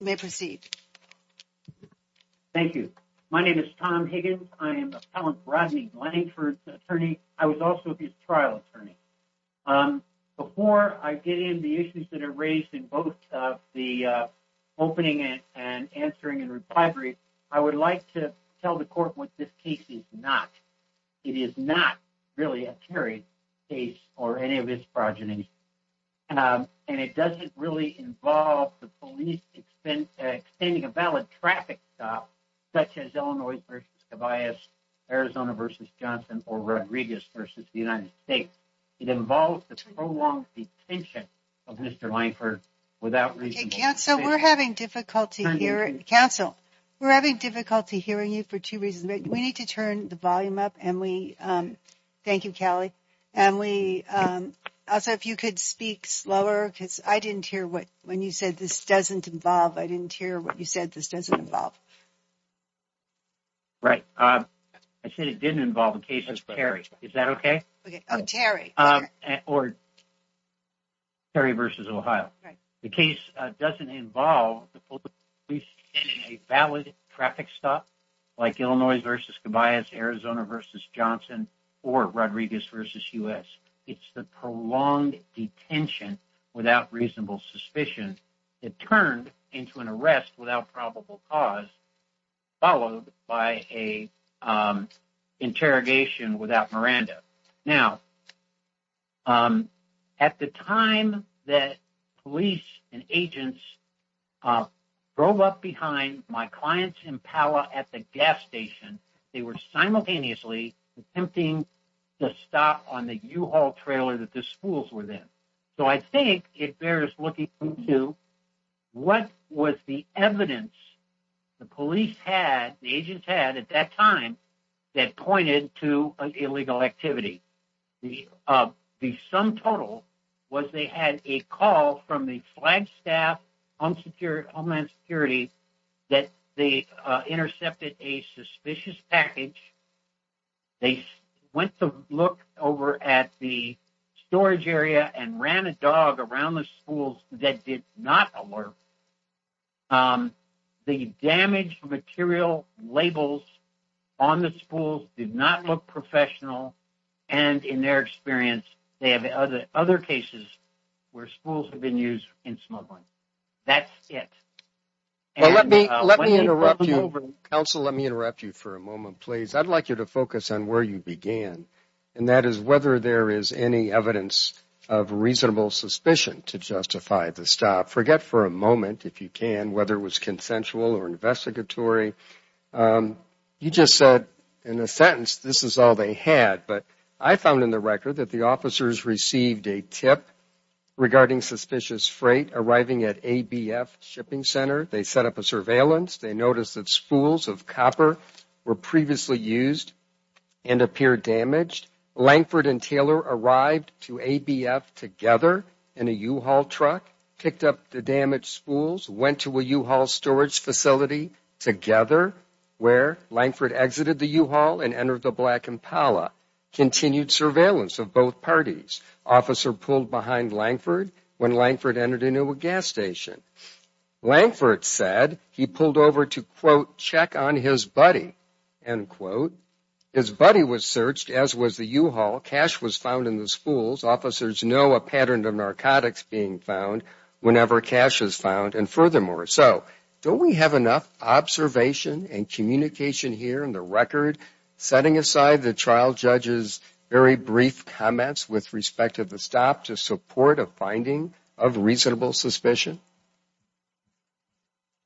May proceed. Thank you. My name is Tom Higgins. I am Appellant Rodney Langford's attorney. I was also his trial attorney. Before I get in the issues that are raised in both of the opening and answering and recovery, I would like to tell the court what this case is not. It is not really a Terry case or any of his progeny. And it doesn't really involve the police extending a valid traffic stop, such as Illinois versus Tobias, Arizona versus Johnson or Rodriguez versus the United States. It involves the prolonged detention of Mr. Langford without reason. So we're having difficulty here. Counsel, we're having difficulty hearing you for two reasons. We need to turn the volume up. Thank you, Callie. Also, if you could speak slower, because I didn't hear what when you said this doesn't involve. I didn't hear what you said this doesn't involve. Right. I said it didn't involve the case of Terry. Is that okay? Okay. Oh, Terry. Or Terry versus Ohio. The case doesn't involve the police getting a valid traffic stop like Illinois versus Tobias, Arizona versus Johnson or Rodriguez versus U.S. It's the prolonged detention without reasonable suspicion. It turned into an arrest without probable cause, followed by a interrogation without Miranda. Now, at the time that police and agents drove up behind my client's Impala at the gas station, they were simultaneously attempting to stop on the U-Haul trailer that the schools were in. So I think it bears looking into what was the evidence the police had, the agents had at that time that pointed to an illegal activity. The sum total was they had a call from the Flagstaff Homeland Security that they intercepted a suspicious package. They went to look over at the storage area and ran a dog around the schools that did not alert. The damaged material labels on the schools did not look professional. And in their experience, they have other cases where schools have been used in smuggling. That's it. Well, let me interrupt you, counsel. Let me interrupt you for a moment, please. I'd like you to focus on where you began, and that is whether there is any evidence of reasonable suspicion to justify the stop. Forget for a moment, if you can, whether it was consensual or investigatory. You just said in a sentence, this is all they had. But I found in the record that the officers received a tip regarding suspicious freight arriving at ABF Shipping Center. They set up a surveillance. They noticed that spools of copper were previously used and appeared damaged. Lankford and Taylor arrived to ABF together in a U-Haul truck, picked up the damaged spools, went to a U-Haul storage facility together where Lankford exited the U-Haul and entered the Black Impala. Continued surveillance of both parties. Officer pulled behind Lankford when Lankford entered a new gas station. Lankford said he pulled over to, quote, check on his buddy, end quote. His buddy was searched, as was the U-Haul. Cash was found in the spools. Officers know a pattern of narcotics being found. Whenever cash is found. And furthermore. So, don't we have enough observation and communication here in the record, setting aside the trial judge's very brief comments with respect to the stop to support a finding of reasonable suspicion?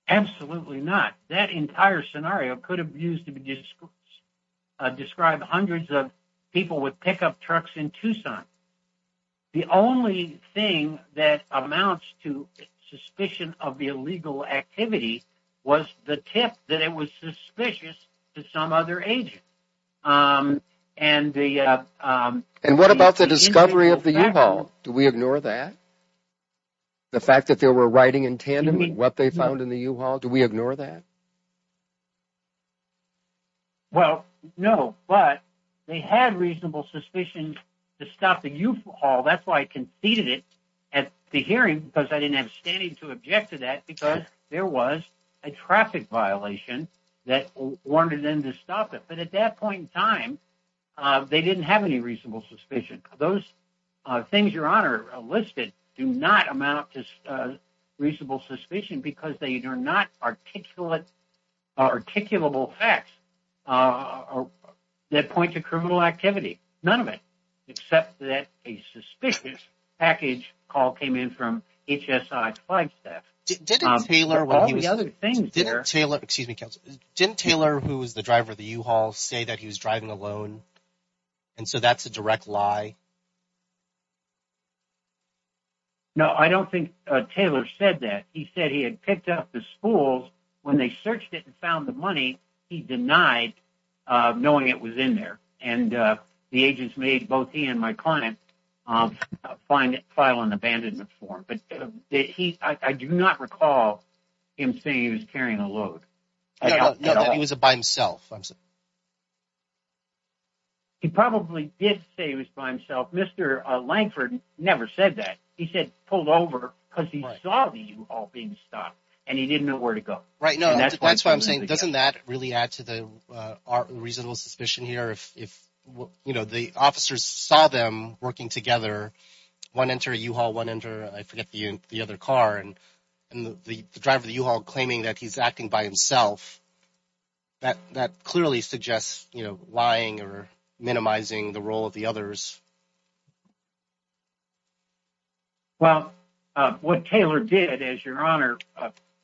Absolutely not. That entire scenario could have used to describe hundreds of people with pickup trucks in Tucson. The only thing that amounts to suspicion of the illegal activity was the tip that it was suspicious to some other agent. And the. And what about the discovery of the U-Haul? Do we ignore that? The fact that they were writing in tandem with what they found in the U-Haul? Do we ignore that? Well, no, but they had reasonable suspicions to stop the U-Haul. That's why I conceded it. The hearing, because I didn't have standing to object to that, because there was a traffic violation that wanted them to stop it. But at that point in time, they didn't have any reasonable suspicion. Those things your honor listed do not amount to reasonable suspicion because they are not articulate, articulable facts that point to criminal activity. None of it, except that a suspicious package call came in from HSI Flagstaff. Didn't Taylor who was the driver of the U-Haul say that he was driving alone? And so that's a direct lie? No, I don't think Taylor said that. He said he had picked up the spool when they searched it and found the money. He denied knowing it was in there. And the agents made both he and my client file an abandonment form. But I do not recall him saying he was carrying a load. No, that he was by himself. He probably did say he was by himself. Mr. Langford never said that. He said pulled over because he saw the U-Haul being stopped and he didn't know where to go. Right. No, that's what I'm saying. Doesn't that really add to the reasonable suspicion here? If the officers saw them working together, one enter a U-Haul, one enter, I forget the other car and the driver of the U-Haul claiming that he's acting by himself. That clearly suggests lying or minimizing the role of the others. Well, what Taylor did, as your Honor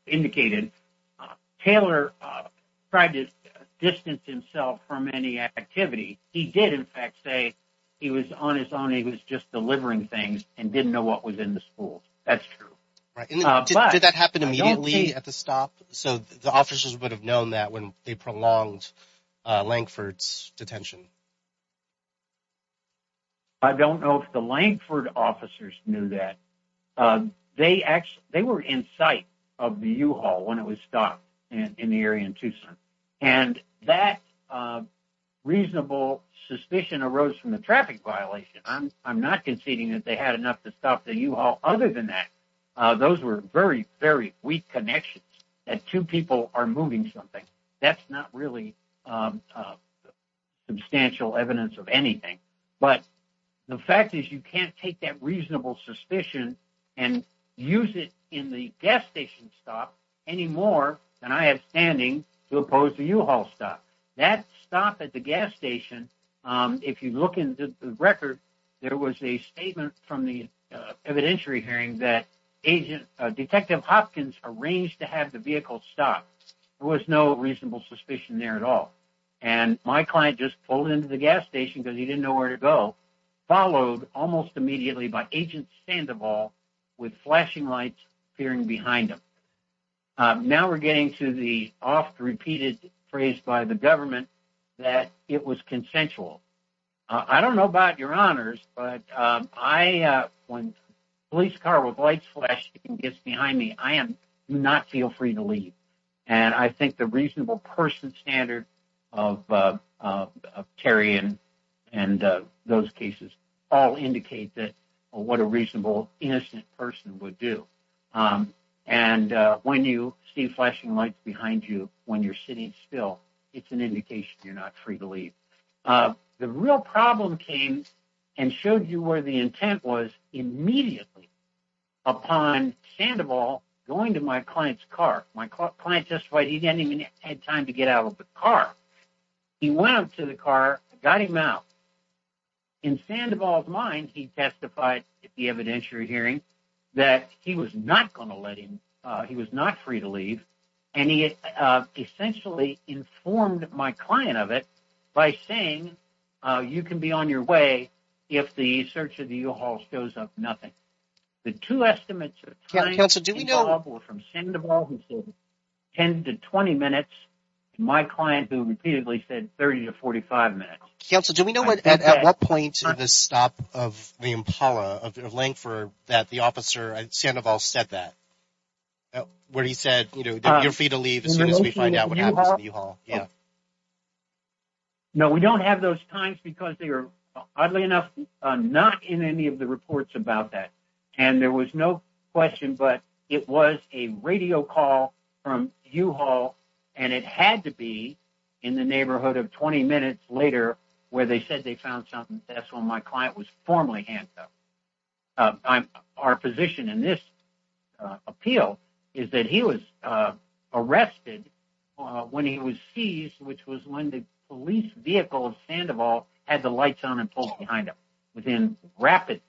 indicated, Taylor tried to distance himself from any activity. He did, in fact, say he was on his own. He was just delivering things and didn't know what was in the spool. That's true. Right. And did that happen immediately at the stop? So the officers would have known that when they prolonged Langford's detention. I don't know if the Langford officers knew that. They were in sight of the U-Haul when it was stopped in the area in Tucson. And that reasonable suspicion arose from the traffic violation. I'm not conceding that they had enough to stop the U-Haul. Other than that, those were very, very weak connections that two people are moving something. That's not really a substantial evidence of anything. But the fact is you can't take that reasonable suspicion and use it in the gas station stop any more than I have standing to oppose the U-Haul stop. That stop at the gas station, if you look into the record, there was a statement from the evidentiary hearing that Detective Hopkins arranged to have the vehicle stopped. There was no reasonable suspicion there at all. And my client just pulled into the gas station because he didn't know where to go, followed almost immediately by Agent Sandoval with flashing lights appearing behind him. Now we're getting to the oft repeated phrase by the government that it was consensual. I don't know about your honors, but when a police car with lights flashing behind me, I do not feel free to leave. And I think the reasonable person standard of Terry and those cases all indicate that what a reasonable, innocent person would do. And when you see flashing lights behind you when you're sitting still, it's an indication you're not free to leave. The real problem came and showed you where the intent was immediately upon Sandoval going to my client's car. My client testified he didn't even have time to get out of the car. He went out to the car, got him out. In Sandoval's mind, he testified at the evidentiary hearing that he was not going to let him, he was not free to leave. And he essentially informed my client of it by saying, you can be on your way if the search of the U-Haul shows up nothing. The two estimates of time involved were from Sandoval who said 10 to 20 minutes, my client who repeatedly said 30 to 45 minutes. Counsel, do we know at what point the stop of the Impala of Langford that the officer at Sandoval said that? Where he said, you're free to leave as soon as we find out what happens to the U-Haul? Yeah. No, we don't have those times because they are, oddly enough, not in any of the reports about that. And there was no question, but it was a radio call from U-Haul and it had to be in the neighborhood of 20 minutes later where they said they found something. That's when my client was formally handcuffed. Our position in this appeal is that he was arrested when he was seized, which was when the police vehicle of Sandoval had the lights on and pulled behind him within rapid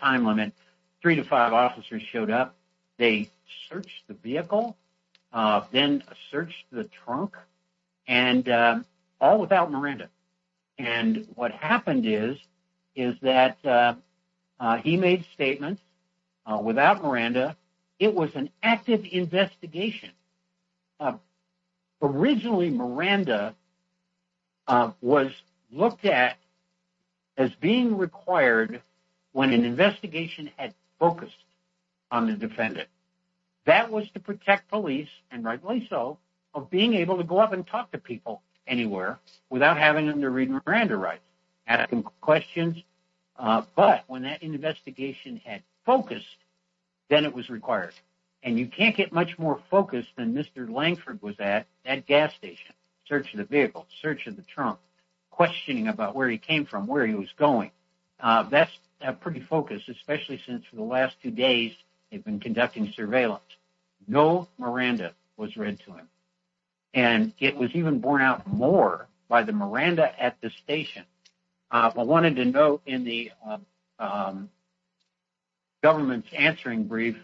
time limit. Three to five officers showed up. They searched the vehicle, then searched the trunk and all without Miranda. And what happened is that he made statements without Miranda. It was an active investigation. Originally, Miranda was looked at as being required when an investigation had focused on the defendant. That was to protect police, and rightly so, of being able to go up and talk to people anywhere without having them to read Miranda rights, asking questions. But when that investigation had focused, then it was required. And you can't get much more focused than Mr. Langford was at that gas station, searching the vehicle, searching the trunk, questioning about where he came from, where he was going. That's pretty focused, especially since for the last two days, they've been conducting surveillance. No Miranda was read to him. And it was even borne out more by the Miranda at the station. I wanted to note in the government's answering brief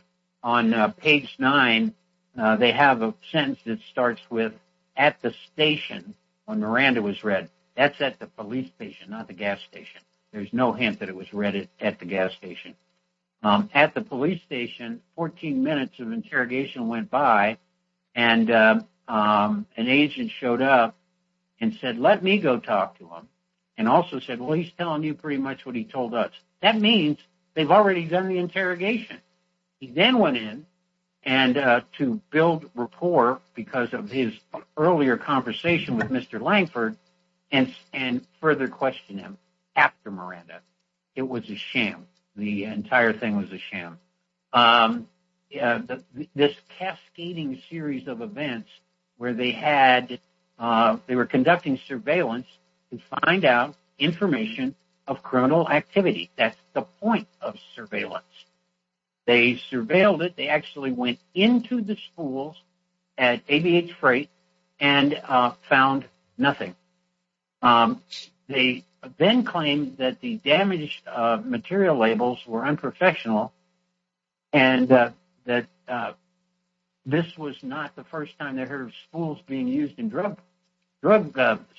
on page nine, they have a sentence that starts with, at the station, when Miranda was read. That's at the police station, not the gas station. There's no hint that it was read at the gas station. At the police station, 14 minutes of interrogation went by, and an agent showed up and said, let me go talk to him. And also said, well, he's telling you pretty much what he told us. That means they've already done the interrogation. He then went in to build rapport because of his earlier conversation with Mr. Langford and further question him after Miranda. It was a sham. The entire thing was a sham. This cascading series of events where they were conducting surveillance to find out information of criminal activity. That's the point of surveillance. They surveilled it. They actually went into the schools at ABH freight and found nothing. They then claimed that the damaged material labels were unprofessional and that this was not the first time they heard of spools being used in drug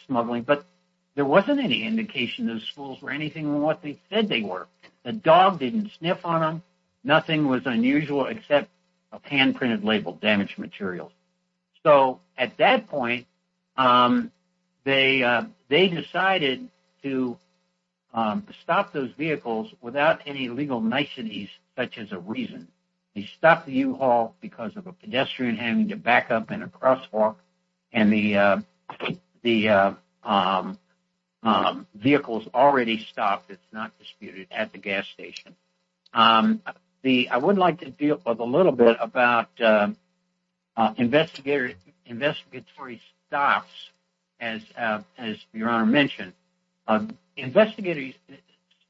smuggling. But there wasn't any indication those spools were anything more than what they said they were. The dog didn't sniff on them. Nothing was unusual except a hand-printed label, damaged materials. So at that point, they decided to stop those vehicles without any legal niceties, such as a reason. They stopped the U-Haul because of a pedestrian having to back up in a crosswalk and the vehicles already stopped. It's not disputed at the gas station. I would like to deal with a little bit about investigatory stops, as your honor mentioned. Investigatory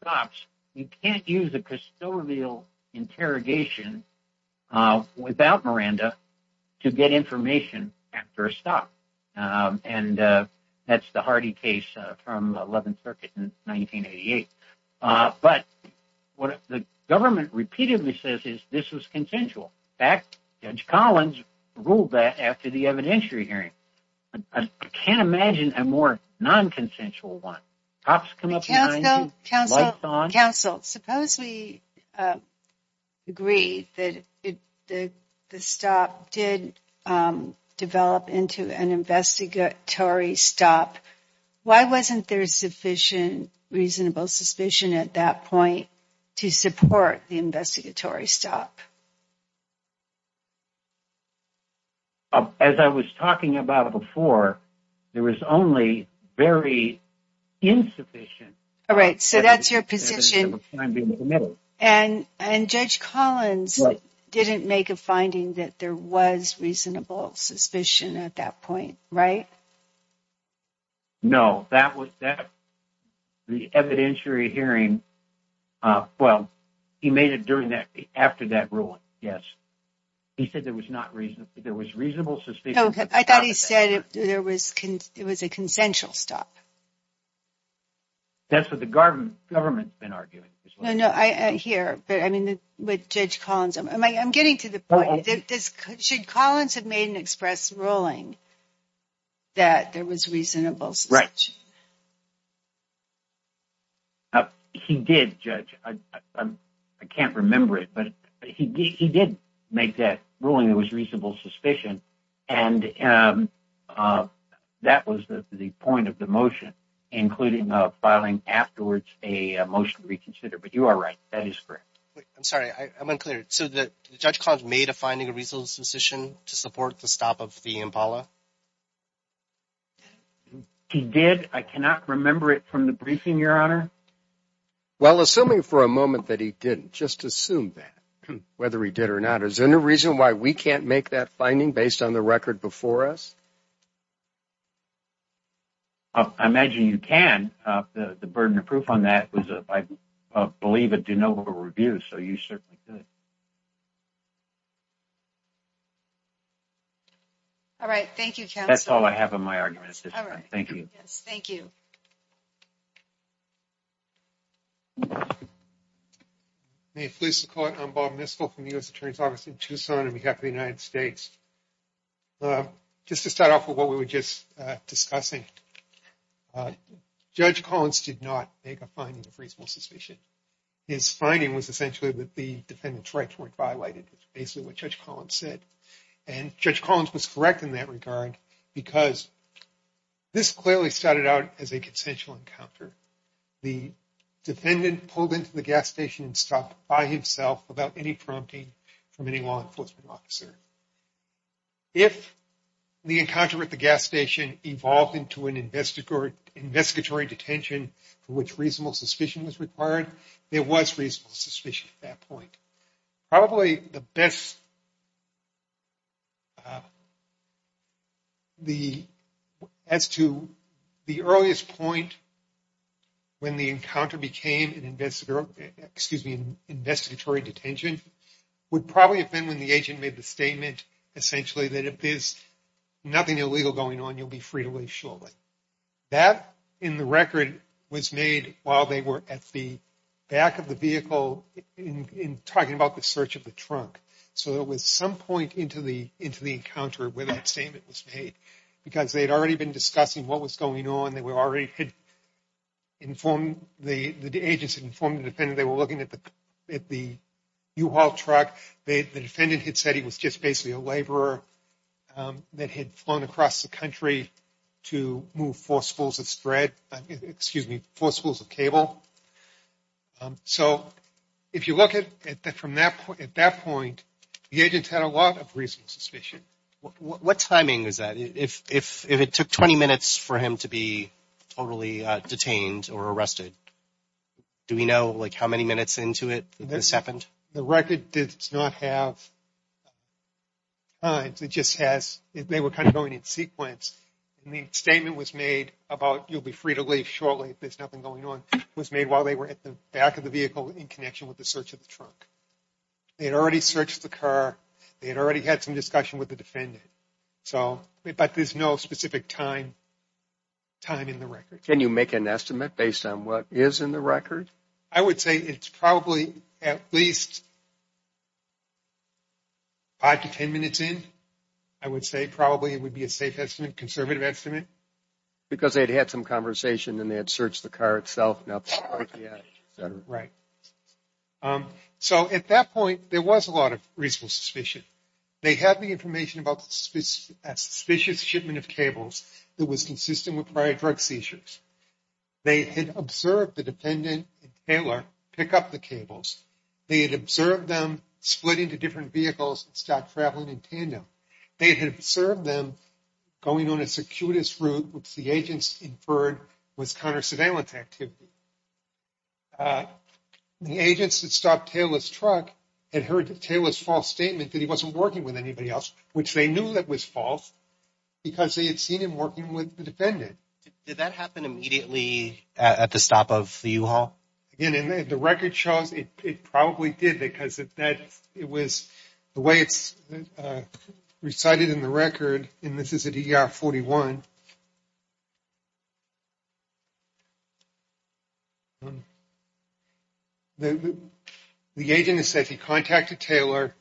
stops, you can't use a custodial interrogation without Miranda to get information after a stop. That's the Hardy case from 11th Circuit in 1988. But what the government repeatedly says is this was consensual. In fact, Judge Collins ruled that after the evidentiary I can't imagine a more non-consensual one. Counsel, suppose we agree that the stop did develop into an investigatory stop. Why wasn't there sufficient reasonable suspicion at that point to support the investigatory stop? As I was talking about before, there was only very insufficient. So that's your position. And Judge Collins didn't make a finding that there was reasonable suspicion at that point, right? No. The evidentiary hearing, uh, well, he made it during that, after that ruling, yes. He said there was not reason, there was reasonable suspicion. I thought he said there was, it was a consensual stop. That's what the government's been arguing. No, no, I hear, but I mean, with Judge Collins, I'm getting to the point. Should Collins have made an express ruling that there was reasonable suspicion? Right. He did, Judge. I can't remember it, but he did make that ruling there was reasonable suspicion. And that was the point of the motion, including filing afterwards a motion to reconsider. But you are right. That is correct. I'm sorry, I'm unclear. So Judge Collins made a finding reasonable suspicion to support the stop of the IMPALA? He did. I cannot remember it from the briefing, Your Honor. Well, assuming for a moment that he didn't, just assume that, whether he did or not. Is there any reason why we can't make that finding based on the record before us? I imagine you can. The burden of proof on that was, I believe, a de novo review, so you certainly could. All right, thank you, counsel. That's all I have on my argument. Thank you. Yes, thank you. May it please the Court, I'm Bob Mistel from the U.S. Attorney's Office in Tucson on behalf of the United States. Just to start off with what we were just discussing, Judge Collins did not make a finding of reasonable suspicion. His finding was essentially that the defendant's rights weren't violated, which is basically what Judge Collins said. And Judge Collins was correct in that regard because this clearly started out as a consensual encounter. The defendant pulled into the gas station and stopped by himself without any prompting from any law enforcement officer. If the encounter at the gas station evolved into an investigatory detention for which reasonable suspicion was required, there was reasonable suspicion at that point. Probably the best, as to the earliest point when the encounter became an investigator, excuse me, investigatory detention would probably have been when the agent made the statement essentially that if there's nothing illegal going on, you'll be free to leave shortly. That in the record was made while they were at the back of the vehicle in talking about the search of the trunk. So, it was some point into the encounter where that statement was made because they had already been discussing what was going on. They were already had informed, the agents had informed the defendant they were looking at the U-Haul truck. The defendant had said he was just basically a laborer that had flown across the country to move forcefuls of thread, excuse me, forcefuls of cable. So, if you look at that from that point, the agents had a lot of reasonable suspicion. What timing is that? If it took 20 minutes for him to be totally detained or arrested, do we know like how many minutes into it this happened? The record does not have times. It just has, they were kind of going in sequence. The statement was made about you'll be free to leave shortly if there's nothing going on was made while they were at the back of the vehicle in connection with the search of the trunk. They had already searched the car. They had already had some discussion with the defendant. So, but there's no specific time in the record. Can you make an estimate based on what is in the record? I would say it's probably at least five to 10 minutes in. I would say probably it would be a safe estimate, conservative estimate. Because they'd had some conversation and they had searched the car itself. Right. So, at that point, there was a lot of reasonable suspicion. They had the information about a suspicious shipment of cables that was consistent with prior drug seizures. They had observed the defendant and Taylor pick up the cables. They had observed them split into different vehicles and start traveling in tandem. They had observed them going on a circuitous route which the agents inferred was counter surveillance activity. The agents that stopped Taylor's truck had heard Taylor's false statement that he wasn't working with anybody else, which they knew that was false because they had seen him working with the defendant. Did that happen immediately at the stop of the U-Haul? Again, if the record shows, it probably did because it was the way it's recited in the record and this is at ER 41. The agent has said he contacted Taylor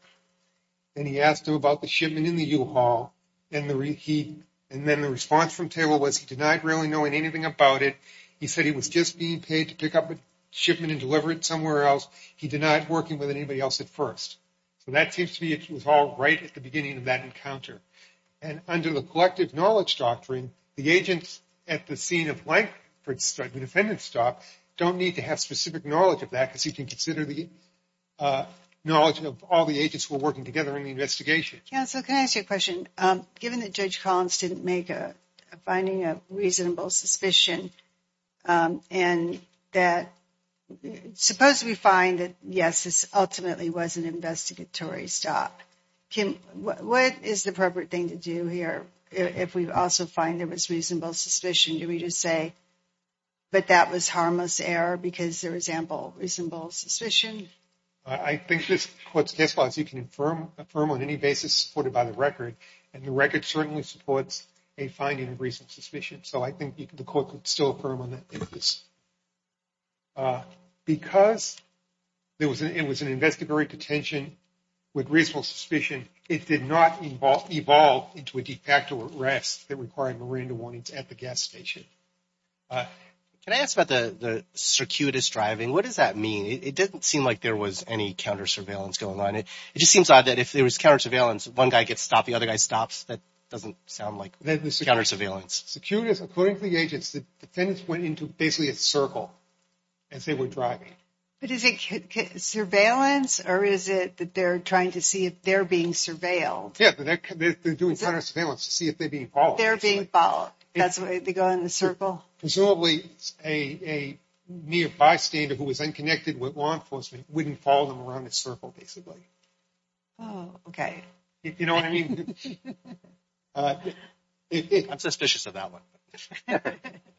and he asked him about the shipment in the U-Haul and then the response from Taylor was he denied really knowing anything about it. He said he was just being paid to pick up a shipment and deliver it somewhere else. He denied working with anybody else at first. So, that seems to be it was all right at the beginning of that encounter. And under the collective knowledge doctrine, the agents at the scene of Lankford, the defendant's stop, don't need to have specific knowledge of that because you can consider the knowledge of all the agents who are working together in the investigation. Counsel, can I ask you a question? Given that Judge Collins didn't make a finding of reasonable suspicion and that, suppose we find that, yes, this ultimately was an investigatory stop, what is the appropriate thing to do here if we also find there was reasonable suspicion? Do we just say, but that was harmless error because there was ample reasonable suspicion? I think this court's guess was you can affirm on any basis supported by the record and the record certainly supports a finding of reasonable suspicion. So, I think the court could still affirm on that basis. Because it was an investigatory detention with reasonable suspicion, it did not evolve into a de facto arrest that required Miranda warnings at the gas station. Can I ask about the circuitous driving? What does that mean? It didn't seem like there was any counter-surveillance going on. It just seems odd that if there was counter-surveillance, one guy gets stopped, the other guy stops. That doesn't sound like counter-surveillance. Circuitous, according to the agents, the defendants went into basically a circle as they were driving. But is it surveillance or is it that they're trying to see if they're being surveilled? Yeah, they're doing counter-surveillance to see if they're being followed. They're being followed. That's why they go in the circle? Presumably, a near bystander who was unconnected with law enforcement wouldn't follow them around the circle basically. Oh, okay. You know what I mean? I'm suspicious of that one.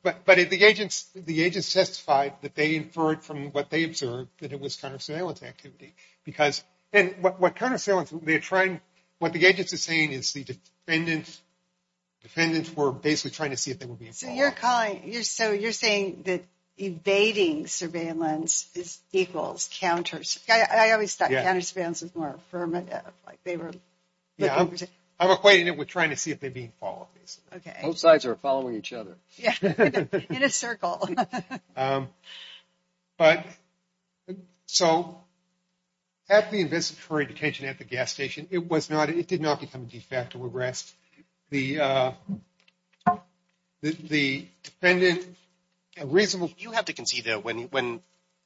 But the agents testified that they inferred from what they observed that it was counter-surveillance activity. What the agents are saying is the defendants were basically trying to see if they were being followed. So you're saying that evading surveillance is equals counter-surveillance. I always thought counter-surveillance was more affirmative. I'm equating it with trying to see if they're being followed basically. Both sides are following each other. Yeah, in a circle. But so, after the investigatory detention at the gas station, it did not become a de facto arrest. The defendant, a reasonable... You have to concede that when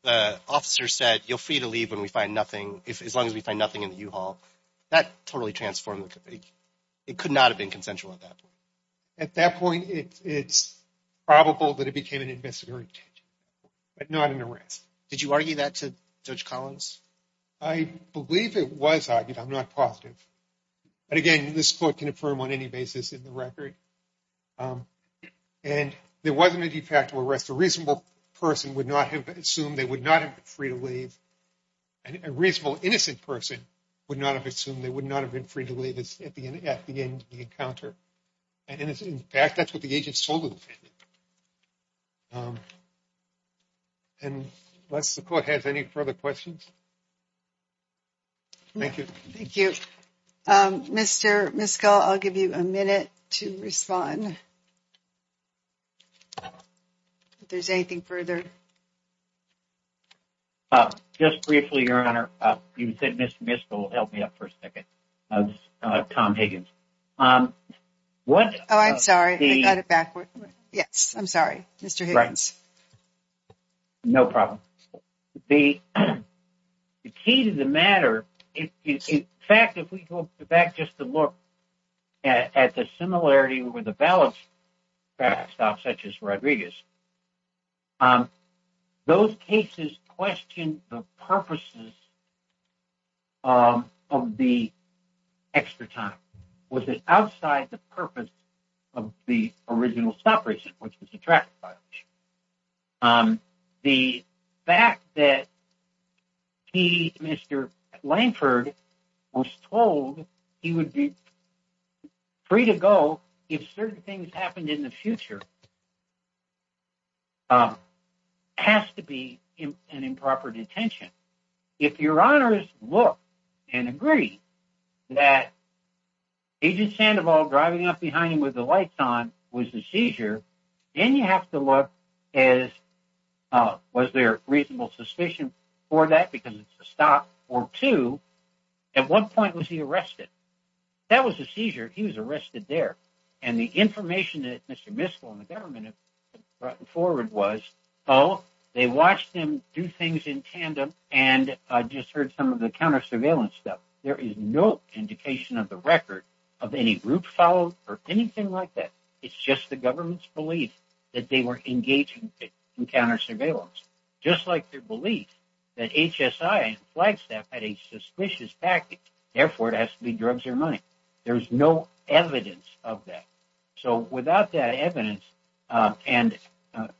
the officer said, you're free to leave when we find nothing, as long as we find nothing in the U-Haul. That totally transformed. It could not have been consensual at that point. At that point, it's probable that it became an investigatory detention, but not an arrest. Did you argue that to Judge Collins? I believe it was argued. I'm not positive. But again, this court can affirm on any basis in the record. And there wasn't a de facto arrest. A reasonable person would not have assumed they would not have been free to leave. And a reasonable innocent person would not have assumed they would not have been free at the end of the encounter. And in fact, that's what the agents told the defendant. And unless the court has any further questions. Thank you. Thank you. Mr. Miskell, I'll give you a minute to respond. If there's anything further. Just briefly, Your Honor. You said Mr. Miskell, help me up for a second. Tom Higgins. Oh, I'm sorry. I got it backward. Yes, I'm sorry. Mr. Higgins. No problem. The key to the matter is, in fact, if we go back just to look at the similarity with the ballots passed off, such as Rodriguez. Those cases question the purposes of the extra time. Was it outside the purpose of the original stop reason, which was the traffic violation? The fact that he, Mr. Lankford, was told he would be free to go if certain things happened in the future. It has to be an improper detention. If Your Honors look and agree that Agent Sandoval driving up behind him with the lights on was the seizure, then you have to look as was there reasonable suspicion for that because it's a stop or two. At one point, he was arrested. That was a seizure. He was arrested there. The information that Mr. Miskell and the government have brought forward was, oh, they watched him do things in tandem. I just heard some of the counter surveillance stuff. There is no indication of the record of any route followed or anything like that. It's just the government's belief that they were engaging in counter surveillance, just like their belief that HSI and Flagstaff had a suspicious package. Therefore, it has to be drugs or money. There is no evidence of that. Without that evidence, and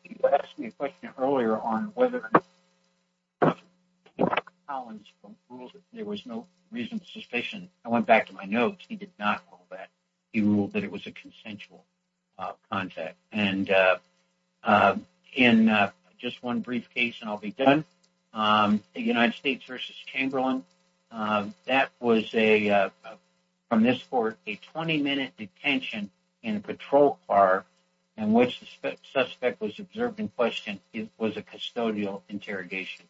you asked me a question earlier on whether Collins ruled that there was no reasonable suspicion. I went back to my notes. He did not rule that. He ruled that it was a consensual contact. In just one brief case, and I'll be done, the United States v. Chamberlain, that was from this court a 20-minute detention in a patrol car in which the suspect was observed in question. It was a custodial interrogation.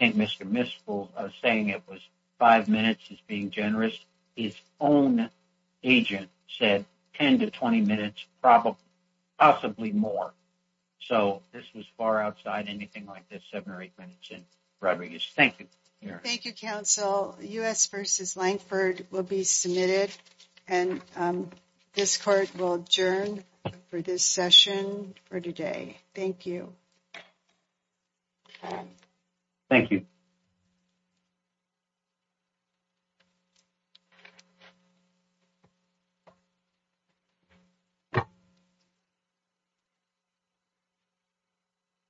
I think Mr. Miskell saying it was five minutes is being generous. His own agent said 10 to 20 minutes, possibly more. This was far outside anything like the seven or eight minutes in Rodriguez. Thank you. Thank you, counsel. U.S. v. Lankford will be submitted. This court will adjourn for this session for today. Thank you. Thank you.